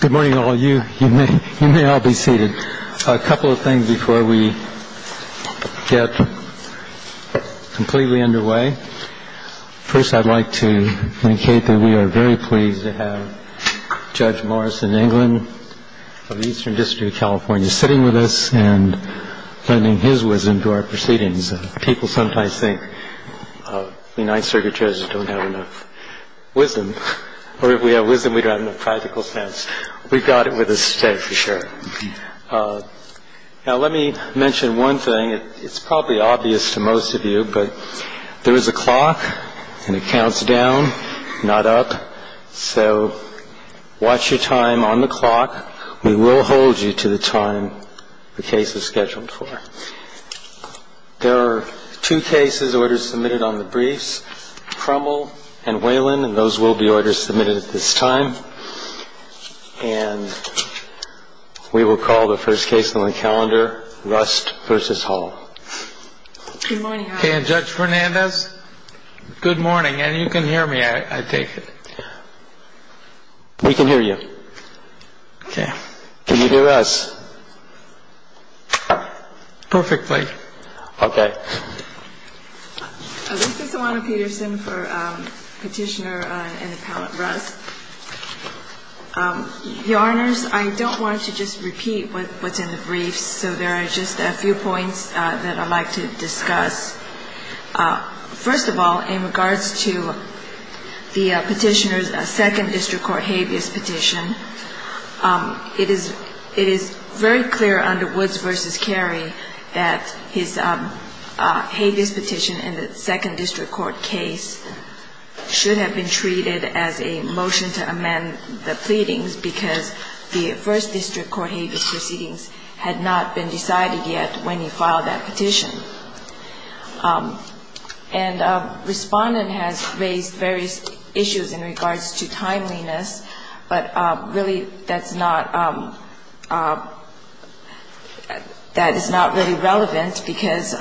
Good morning, all of you. You may all be seated. A couple of things before we get completely underway. First, I'd like to indicate that we are very pleased to have Judge Morrison, England, of the Eastern District of California, sitting with us and lending his wisdom to our proceedings. People sometimes think United Circuit judges don't have enough wisdom, or if we have wisdom, we don't have enough practical sense. We've got it with us today, for sure. Now, let me mention one thing. It's probably obvious to most of you, but there is a clock and it counts down, not up. So watch your time on the clock. We will hold you to the time the case is scheduled for. There are two cases, orders submitted on the briefs, Crummell and Whalen, and those will be orders submitted at this time. And we will call the first case on the calendar, Rust v. Hall. Good morning. And Judge Fernandez. Good morning. And you can hear me, I take it. We can hear you. Can you hear us? Perfectly. Okay. This is Ilana Peterson for Petitioner and Appellant Rust. Your Honors, I don't want to just repeat what's in the briefs, so there are just a few points that I'd like to discuss. First of all, in regards to the Petitioner's Second District Court habeas petition, it is very clear under Woods v. Carey that his habeas petition in the Second District Court case should have been treated as a motion to amend the pleadings because the First District Court habeas proceedings had not been decided yet when he filed that petition. And Respondent has raised various issues in regards to timeliness, but really that's not, that is not really relevant because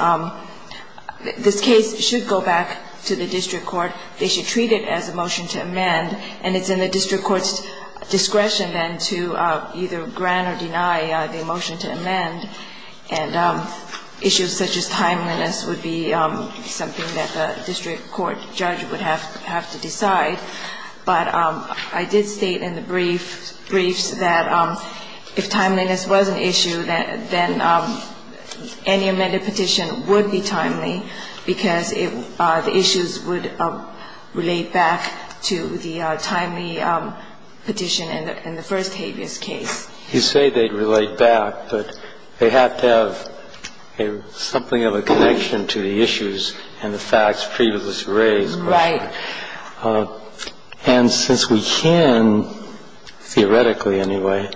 this case should go back to the District Court. They should treat it as a motion to amend, and it's in the District Court's discretion then to either grant or deny the motion to amend. And issues such as timeliness would be something that the District Court judge would have to decide. But I did state in the briefs that if timeliness was an issue, then any amended petition would be timely because the issues would relate back to the timely petition in the First Habeas case. You say they'd relate back, but they have to have something of a connection to the issues and the facts previously raised. Right. And since we can, theoretically anyway,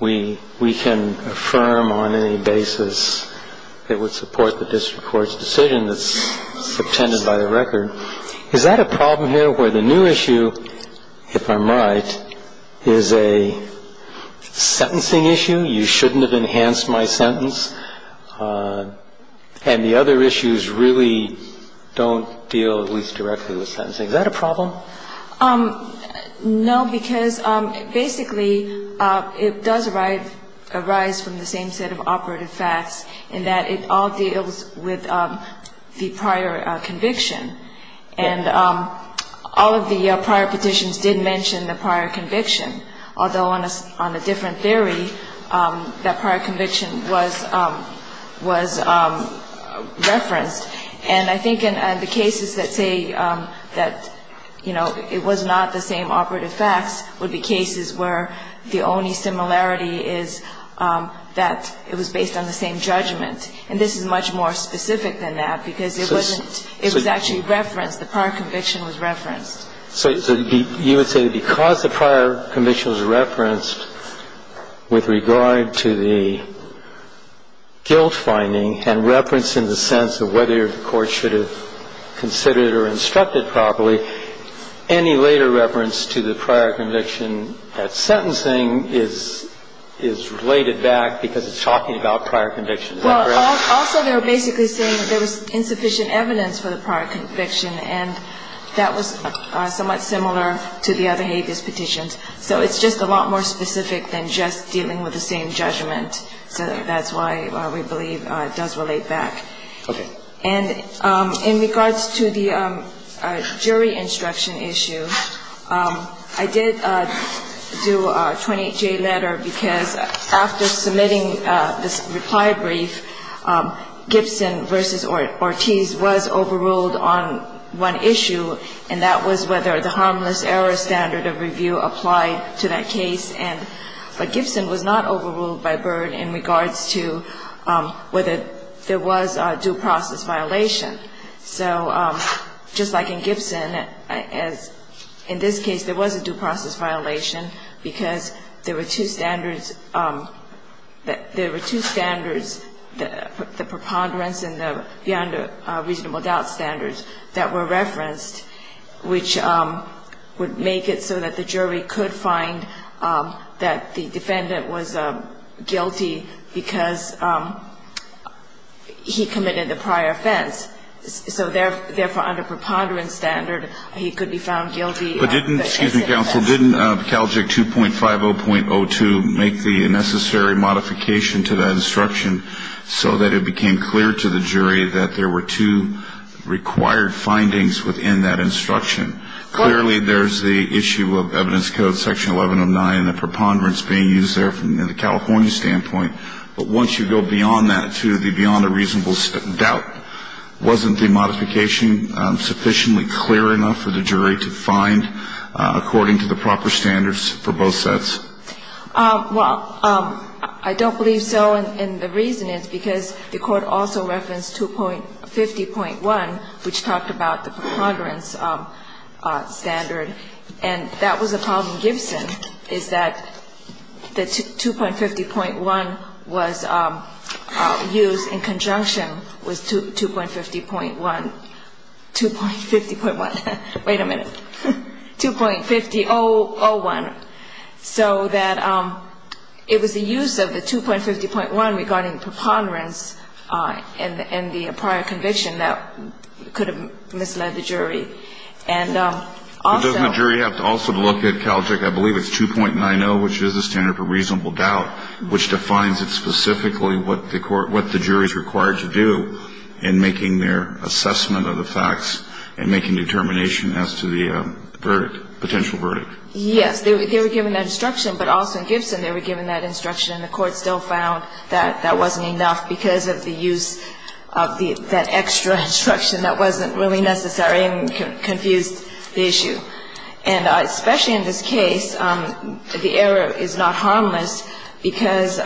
we can affirm on any basis it would support the District Court's decision that's subtended by the record. Is that a problem here where the new issue, if I might, is a sentencing issue? You shouldn't have enhanced my sentence. And the other issues really don't deal at least directly with sentencing. Is that a problem? No, because basically it does arise from the same set of operative facts in that it all deals with the prior conviction. And all of the prior petitions did mention the prior conviction, although on a different theory, that prior conviction was referenced. And I think in the cases that say that, you know, it was not the same operative facts would be cases where the only similarity is that it was based on the same judgment. And this is much more specific than that, because it wasn't – it was actually referenced, the prior conviction was referenced. So you would say because the prior conviction was referenced with regard to the guilt finding and referenced in the sense of whether the court should have considered or instructed properly, any later reference to the prior conviction at sentencing is related back because it's talking about prior convictions? Well, also they were basically saying there was insufficient evidence for the prior conviction, and that was somewhat similar to the other habeas petitions. So it's just a lot more specific than just dealing with the same judgment. So that's why we believe it does relate back. Okay. And in regards to the jury instruction issue, I did do a 28-J letter because after submitting this reply brief, Gibson v. Ortiz was overruled on one issue, and that was whether the harmless error standard of review applied to that case. But Gibson was not overruled by Byrd in regards to whether there was a due process violation. So just like in Gibson, in this case, there was a due process violation because there were two standards, the preponderance and the beyond reasonable doubt standards that were referenced, which would make it so that the jury could find that the defendant was guilty because he committed the prior offense. So therefore, under preponderance standard, he could be found guilty. But didn't, excuse me, counsel, didn't CALJIC 2.50.02 make the necessary modification to that instruction so that it became clear to the jury that there were two required findings within that instruction? Clearly, there's the issue of evidence code section 1109 and the preponderance being used there from the California standpoint. But once you go beyond that to the beyond a reasonable doubt, wasn't the modification sufficiently clear enough for the jury to find according to the proper standards for both sets? Well, I don't believe so. And the reason is because the Court also referenced 2.50.1, which talked about the preponderance standard. And that was a problem in Gibson, is that the 2.50.1 was used in conjunction with 2.50.1. 2.50.1. Wait a minute. 2.50.01. So that it was the use of the 2.50.1 regarding preponderance and the prior conviction that could have misled the jury. And also the jury have to also look at CALJIC, I believe it's 2.90, which is a standard for reasonable doubt, which defines it specifically what the court what the jury is required to do in making their assessment of the facts and making determination as to the verdict, potential verdict. Yes. They were given that instruction, but also in Gibson they were given that instruction and the Court still found that that wasn't enough because of the use of that extra instruction that wasn't really necessary and confused the issue. And especially in this case, the error is not harmless because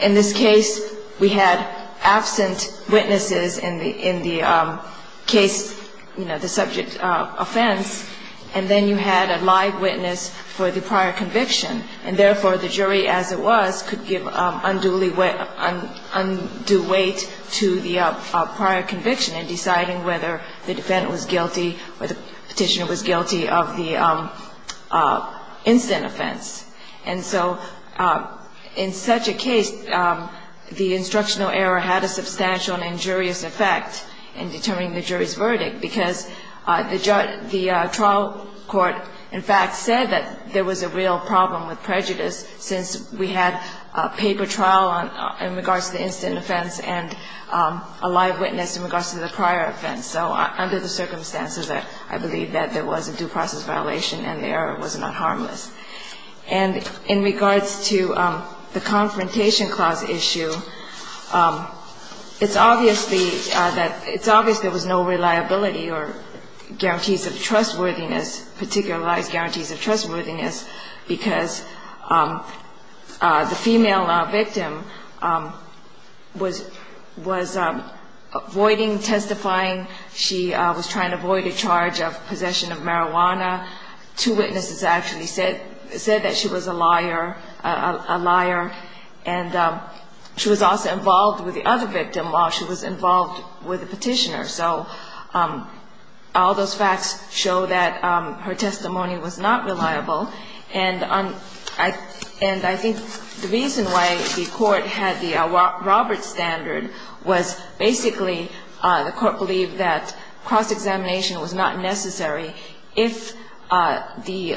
in this case we had absent witnesses in the case, you know, the subject offense. And then you had a live witness for the prior conviction. And therefore, the jury, as it was, could give undue weight to the prior conviction in deciding whether the defendant was guilty or the Petitioner was guilty of the incident offense. And so in such a case, the instructional error had a substantial and injurious effect in determining the jury's verdict because the trial court in fact said that there was a real problem with prejudice since we had a paper trial in regards to the incident offense and a live witness in regards to the prior offense. So under the circumstances, I believe that there was a due process violation and the error was not harmless. And in regards to the Confrontation Clause issue, it's obviously that it's obvious there was no reliability or guarantees of trustworthiness, particularized guarantees of trustworthiness, because the female victim was avoiding testifying. She was trying to avoid a charge of possession of marijuana. Two witnesses actually said that she was a liar, a liar. And she was also involved with the other victim while she was involved with the Petitioner. So all those facts show that her testimony was not reliable. And I think the reason why the court had the Robert standard was basically the court believed that cross-examination was not necessary if the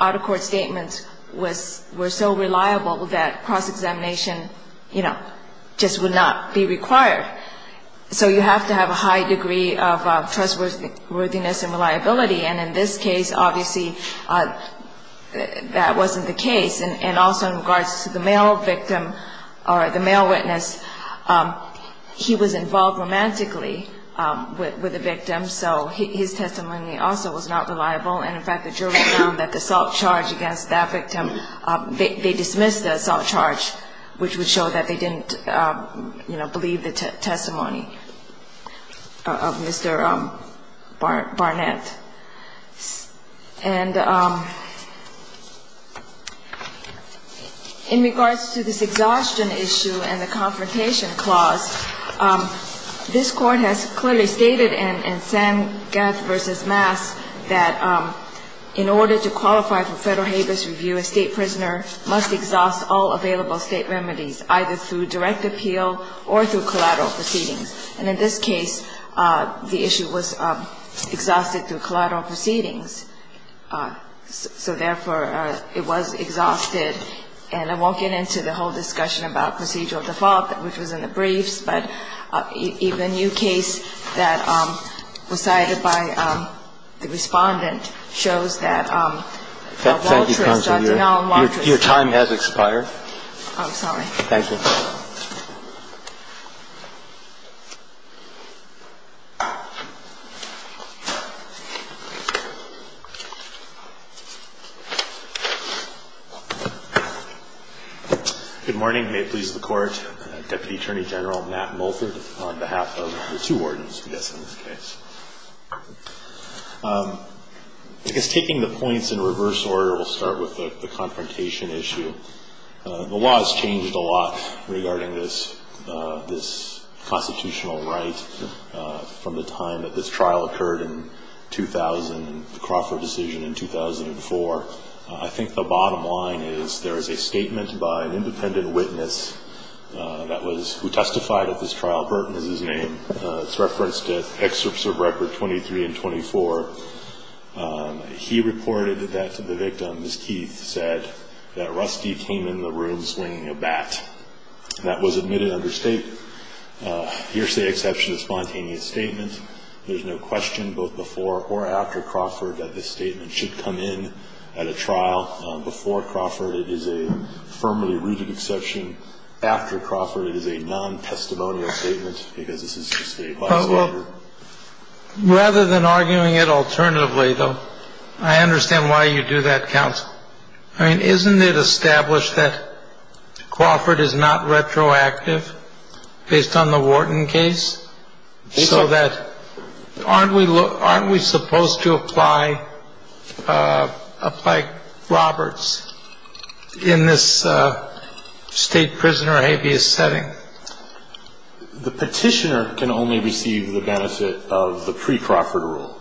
out-of-court statements were so reliable that cross-examination, you know, just would not be required. So you have to have a high degree of trustworthiness and reliability. And in this case, obviously, that wasn't the case. And also in regards to the male victim or the male witness, he was involved romantically with the victim, so his testimony also was not reliable. And, in fact, the jury found that the assault charge against that victim, they dismissed the assault charge, which would show that they didn't, you know, believe the testimony of Mr. Barnett. And in regards to this exhaustion issue and the confrontation clause, this Court has clearly stated in Sangeth v. Mass that in order to qualify for Federal Habeas Review, a State prisoner must exhaust all available State remedies, either through direct appeal or through collateral proceedings. And in this case, the issue was exhausted through collateral proceedings. So, therefore, it was exhausted. And I won't get into the whole discussion about procedural default, which was in the briefs, but even a new case that was cited by the Respondent shows that Walteris, Dr. Nolan Walteris. Thank you, counsel. Your time has expired. I'm sorry. Thank you. Good morning. May it please the Court. Deputy Attorney General Matt Mulford on behalf of the two wardens, I guess, in this case. I guess taking the points in reverse order, we'll start with the confrontation issue. The law has changed a lot regarding this constitutional right from the time that this trial occurred in 2000, the Crawford decision in 2004. I think the bottom line is there is a statement by an independent witness that was who testified at this trial. Burton is his name. It's referenced in excerpts of Record 23 and 24. He reported that to the victim, as Keith said, that Rusty came in the room swinging a bat. That was admitted under State hearsay exception of spontaneous statement. There's no question, both before or after Crawford, that this statement should come in at a trial. Before Crawford, it is a firmly rooted exception. After Crawford, it is a non-testimonial statement because this is just a by-law. Rather than arguing it alternatively, though, I understand why you do that, counsel. I mean, isn't it established that Crawford is not retroactive based on the Wharton case? So that aren't we supposed to apply Roberts in this state prisoner habeas setting? The petitioner can only receive the benefit of the pre-Crawford rule.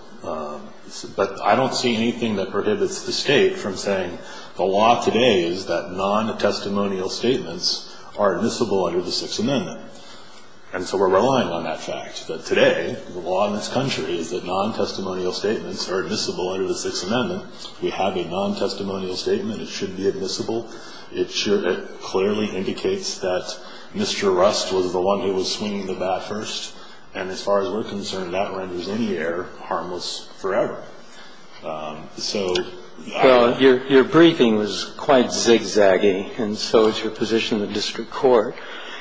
But I don't see anything that prohibits the state from saying the law today is that non-testimonial statements are admissible under the Sixth Amendment. And so we're relying on that fact, that today the law in this country is that non-testimonial statements are admissible under the Sixth Amendment. We have a non-testimonial statement. It should be admissible. It clearly indicates that Mr. Rust was the one who was swinging the bat first. And as far as we're concerned, that renders any error harmless forever. So I don't know. Your briefing was quite zigzaggy. And so is your position in the district court.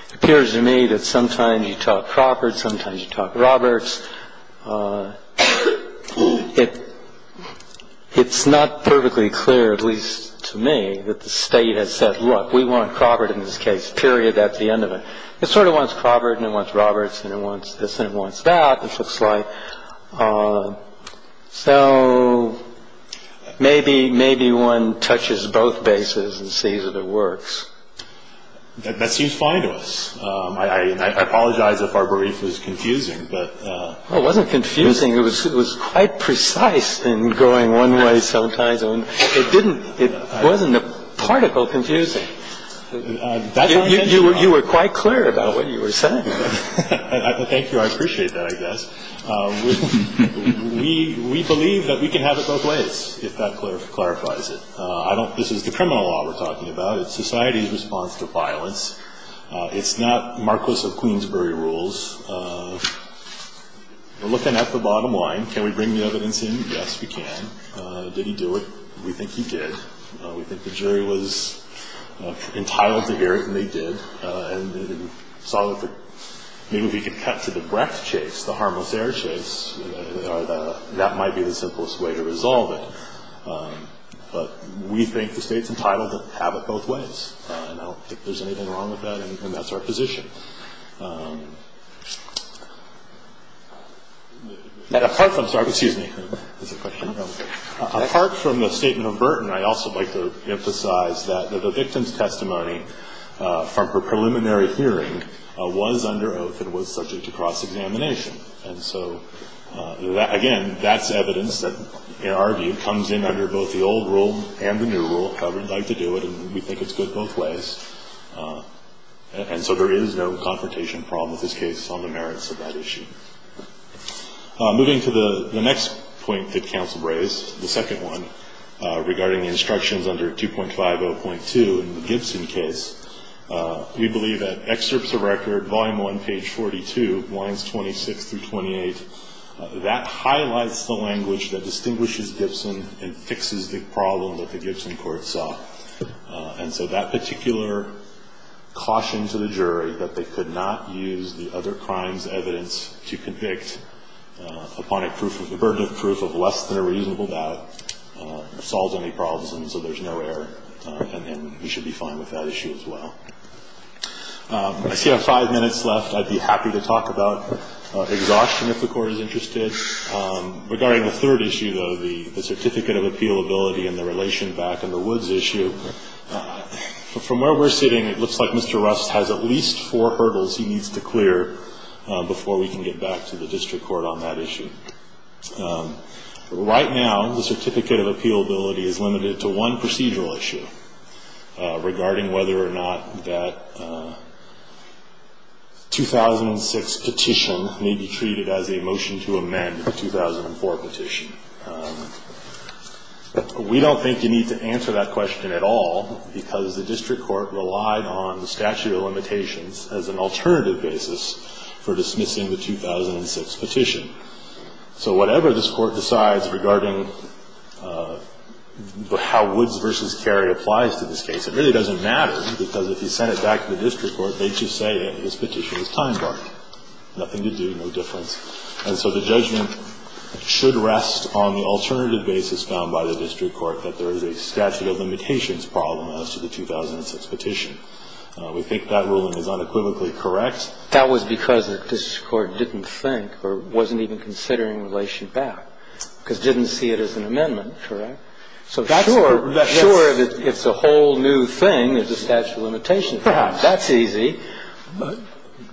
It appears to me that sometimes you talk Crawford, sometimes you talk Roberts. It's not perfectly clear, at least to me, that the State has said, look, we want Crawford in this case, period, that's the end of it. It sort of wants Crawford and it wants Roberts and it wants this and it wants that, it looks like. So maybe one touches both bases and sees that it works. That seems fine to us. I apologize if our brief was confusing. It wasn't confusing. It was quite precise in going one way sometimes. It wasn't a particle confusing. You were quite clear about what you were saying. Thank you. I appreciate that, I guess. We believe that we can have it both ways, if that clarifies it. This is the criminal law we're talking about. It's society's response to violence. It's not Marcos of Queensbury rules. We're looking at the bottom line. Can we bring the evidence in? Yes, we can. Did he do it? We think he did. We think the jury was entitled to hear it and they did. Maybe we can cut to the breath chase, the harmless air chase. That might be the simplest way to resolve it. But we think the State's entitled to have it both ways. I don't think there's anything wrong with that and that's our position. Apart from the statement of Burton, I'd also like to emphasize that the victim's testimony from her preliminary hearing was under oath and was subject to cross-examination. And so, again, that's evidence that, in our view, comes in under both the old rule and the new rule. We'd like to do it and we think it's good both ways. And so there is no confrontation problem with this case on the merits of that issue. Moving to the next point that counsel raised, the second one, regarding the instructions under 2.50.2 in the Gibson case, we believe that excerpts of record, volume 1, page 42, lines 26 through 28, that highlights the language that distinguishes Gibson and fixes the problem that the Gibson court saw. And so that particular caution to the jury, that they could not use the other crime's evidence to convict, upon a burden of proof of less than a reasonable doubt, solves any problems and so there's no error. And we should be fine with that issue as well. I see I have five minutes left. I'd be happy to talk about exhaustion if the Court is interested. Regarding the third issue, though, the certificate of appealability and the relation back in the woods issue, from where we're sitting, it looks like Mr. Rust has at least four hurdles he needs to clear before we can get back to the district court on that issue. Right now, the certificate of appealability is limited to one procedural issue regarding whether or not that 2006 petition may be treated as a motion to amend the 2004 petition. We don't think you need to answer that question at all because the district court relied on the statute of limitations as an alternative basis for dismissing the 2006 petition. So whatever this Court decides regarding how Woods v. Cary applies to this case, it really doesn't matter because if you sent it back to the district court, they'd just say that this petition was time-barred. Nothing to do, no difference. And so the judgment should rest on the alternative basis found by the district court that there is a statute of limitations problem as to the 2006 petition. We think that ruling is unequivocally correct. That was because the district court didn't think or wasn't even considering relation back because it didn't see it as an amendment, correct? So sure, it's a whole new thing. There's a statute of limitations problem. That's easy.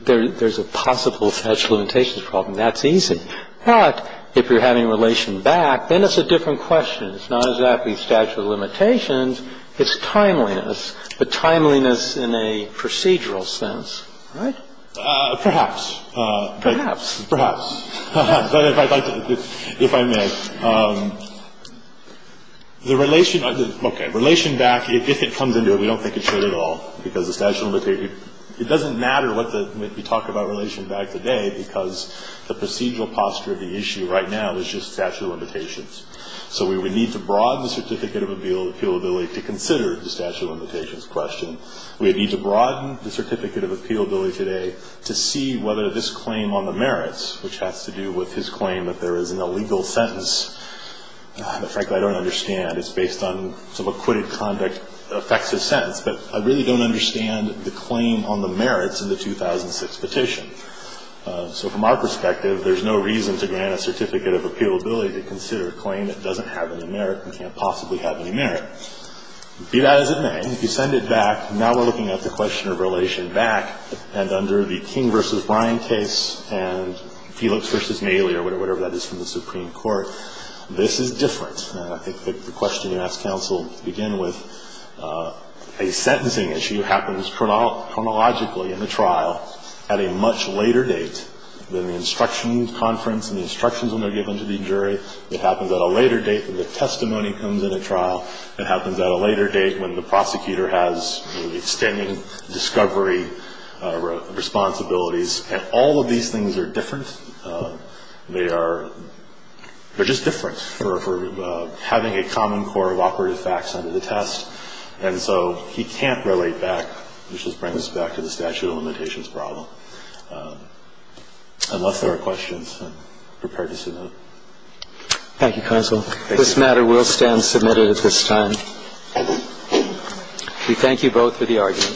There's a possible statute of limitations problem. That's easy. But if you're having relation back, then it's a different question. It's not exactly statute of limitations. It's timeliness, but timeliness in a procedural sense, right? Perhaps. Perhaps. Perhaps. But if I'd like to, if I may. The relation, okay, relation back, if it comes into it, we don't think it should at all because the statute of limitations, it doesn't matter what the, we talk about because the procedural posture of the issue right now is just statute of limitations. So we would need to broaden the certificate of appealability to consider the statute of limitations question. We would need to broaden the certificate of appealability today to see whether this claim on the merits, which has to do with his claim that there is an illegal sentence, frankly, I don't understand. It's based on some acquitted conduct affects his sentence. But I really don't understand the claim on the merits of the 2006 petition. So from our perspective, there's no reason to grant a certificate of appealability to consider a claim that doesn't have any merit and can't possibly have any merit. Be that as it may, if you send it back, now we're looking at the question of relation back and under the King v. Bryan case and Felix v. Maley or whatever that is from the Supreme Court, this is different. I think the question you asked counsel to begin with, a sentencing issue happens chronologically in the trial at a much later date than the instruction conference and the instructions when they're given to the jury. It happens at a later date when the testimony comes in a trial. It happens at a later date when the prosecutor has the extended discovery responsibilities. And all of these things are different. They are just different for having a common core of operative facts under the test. And so he can't relate back, which just brings us back to the statute of limitations problem. Unless there are questions, I'm prepared to submit. Thank you, counsel. This matter will stand submitted at this time. We thank you both for the argument. Thank you.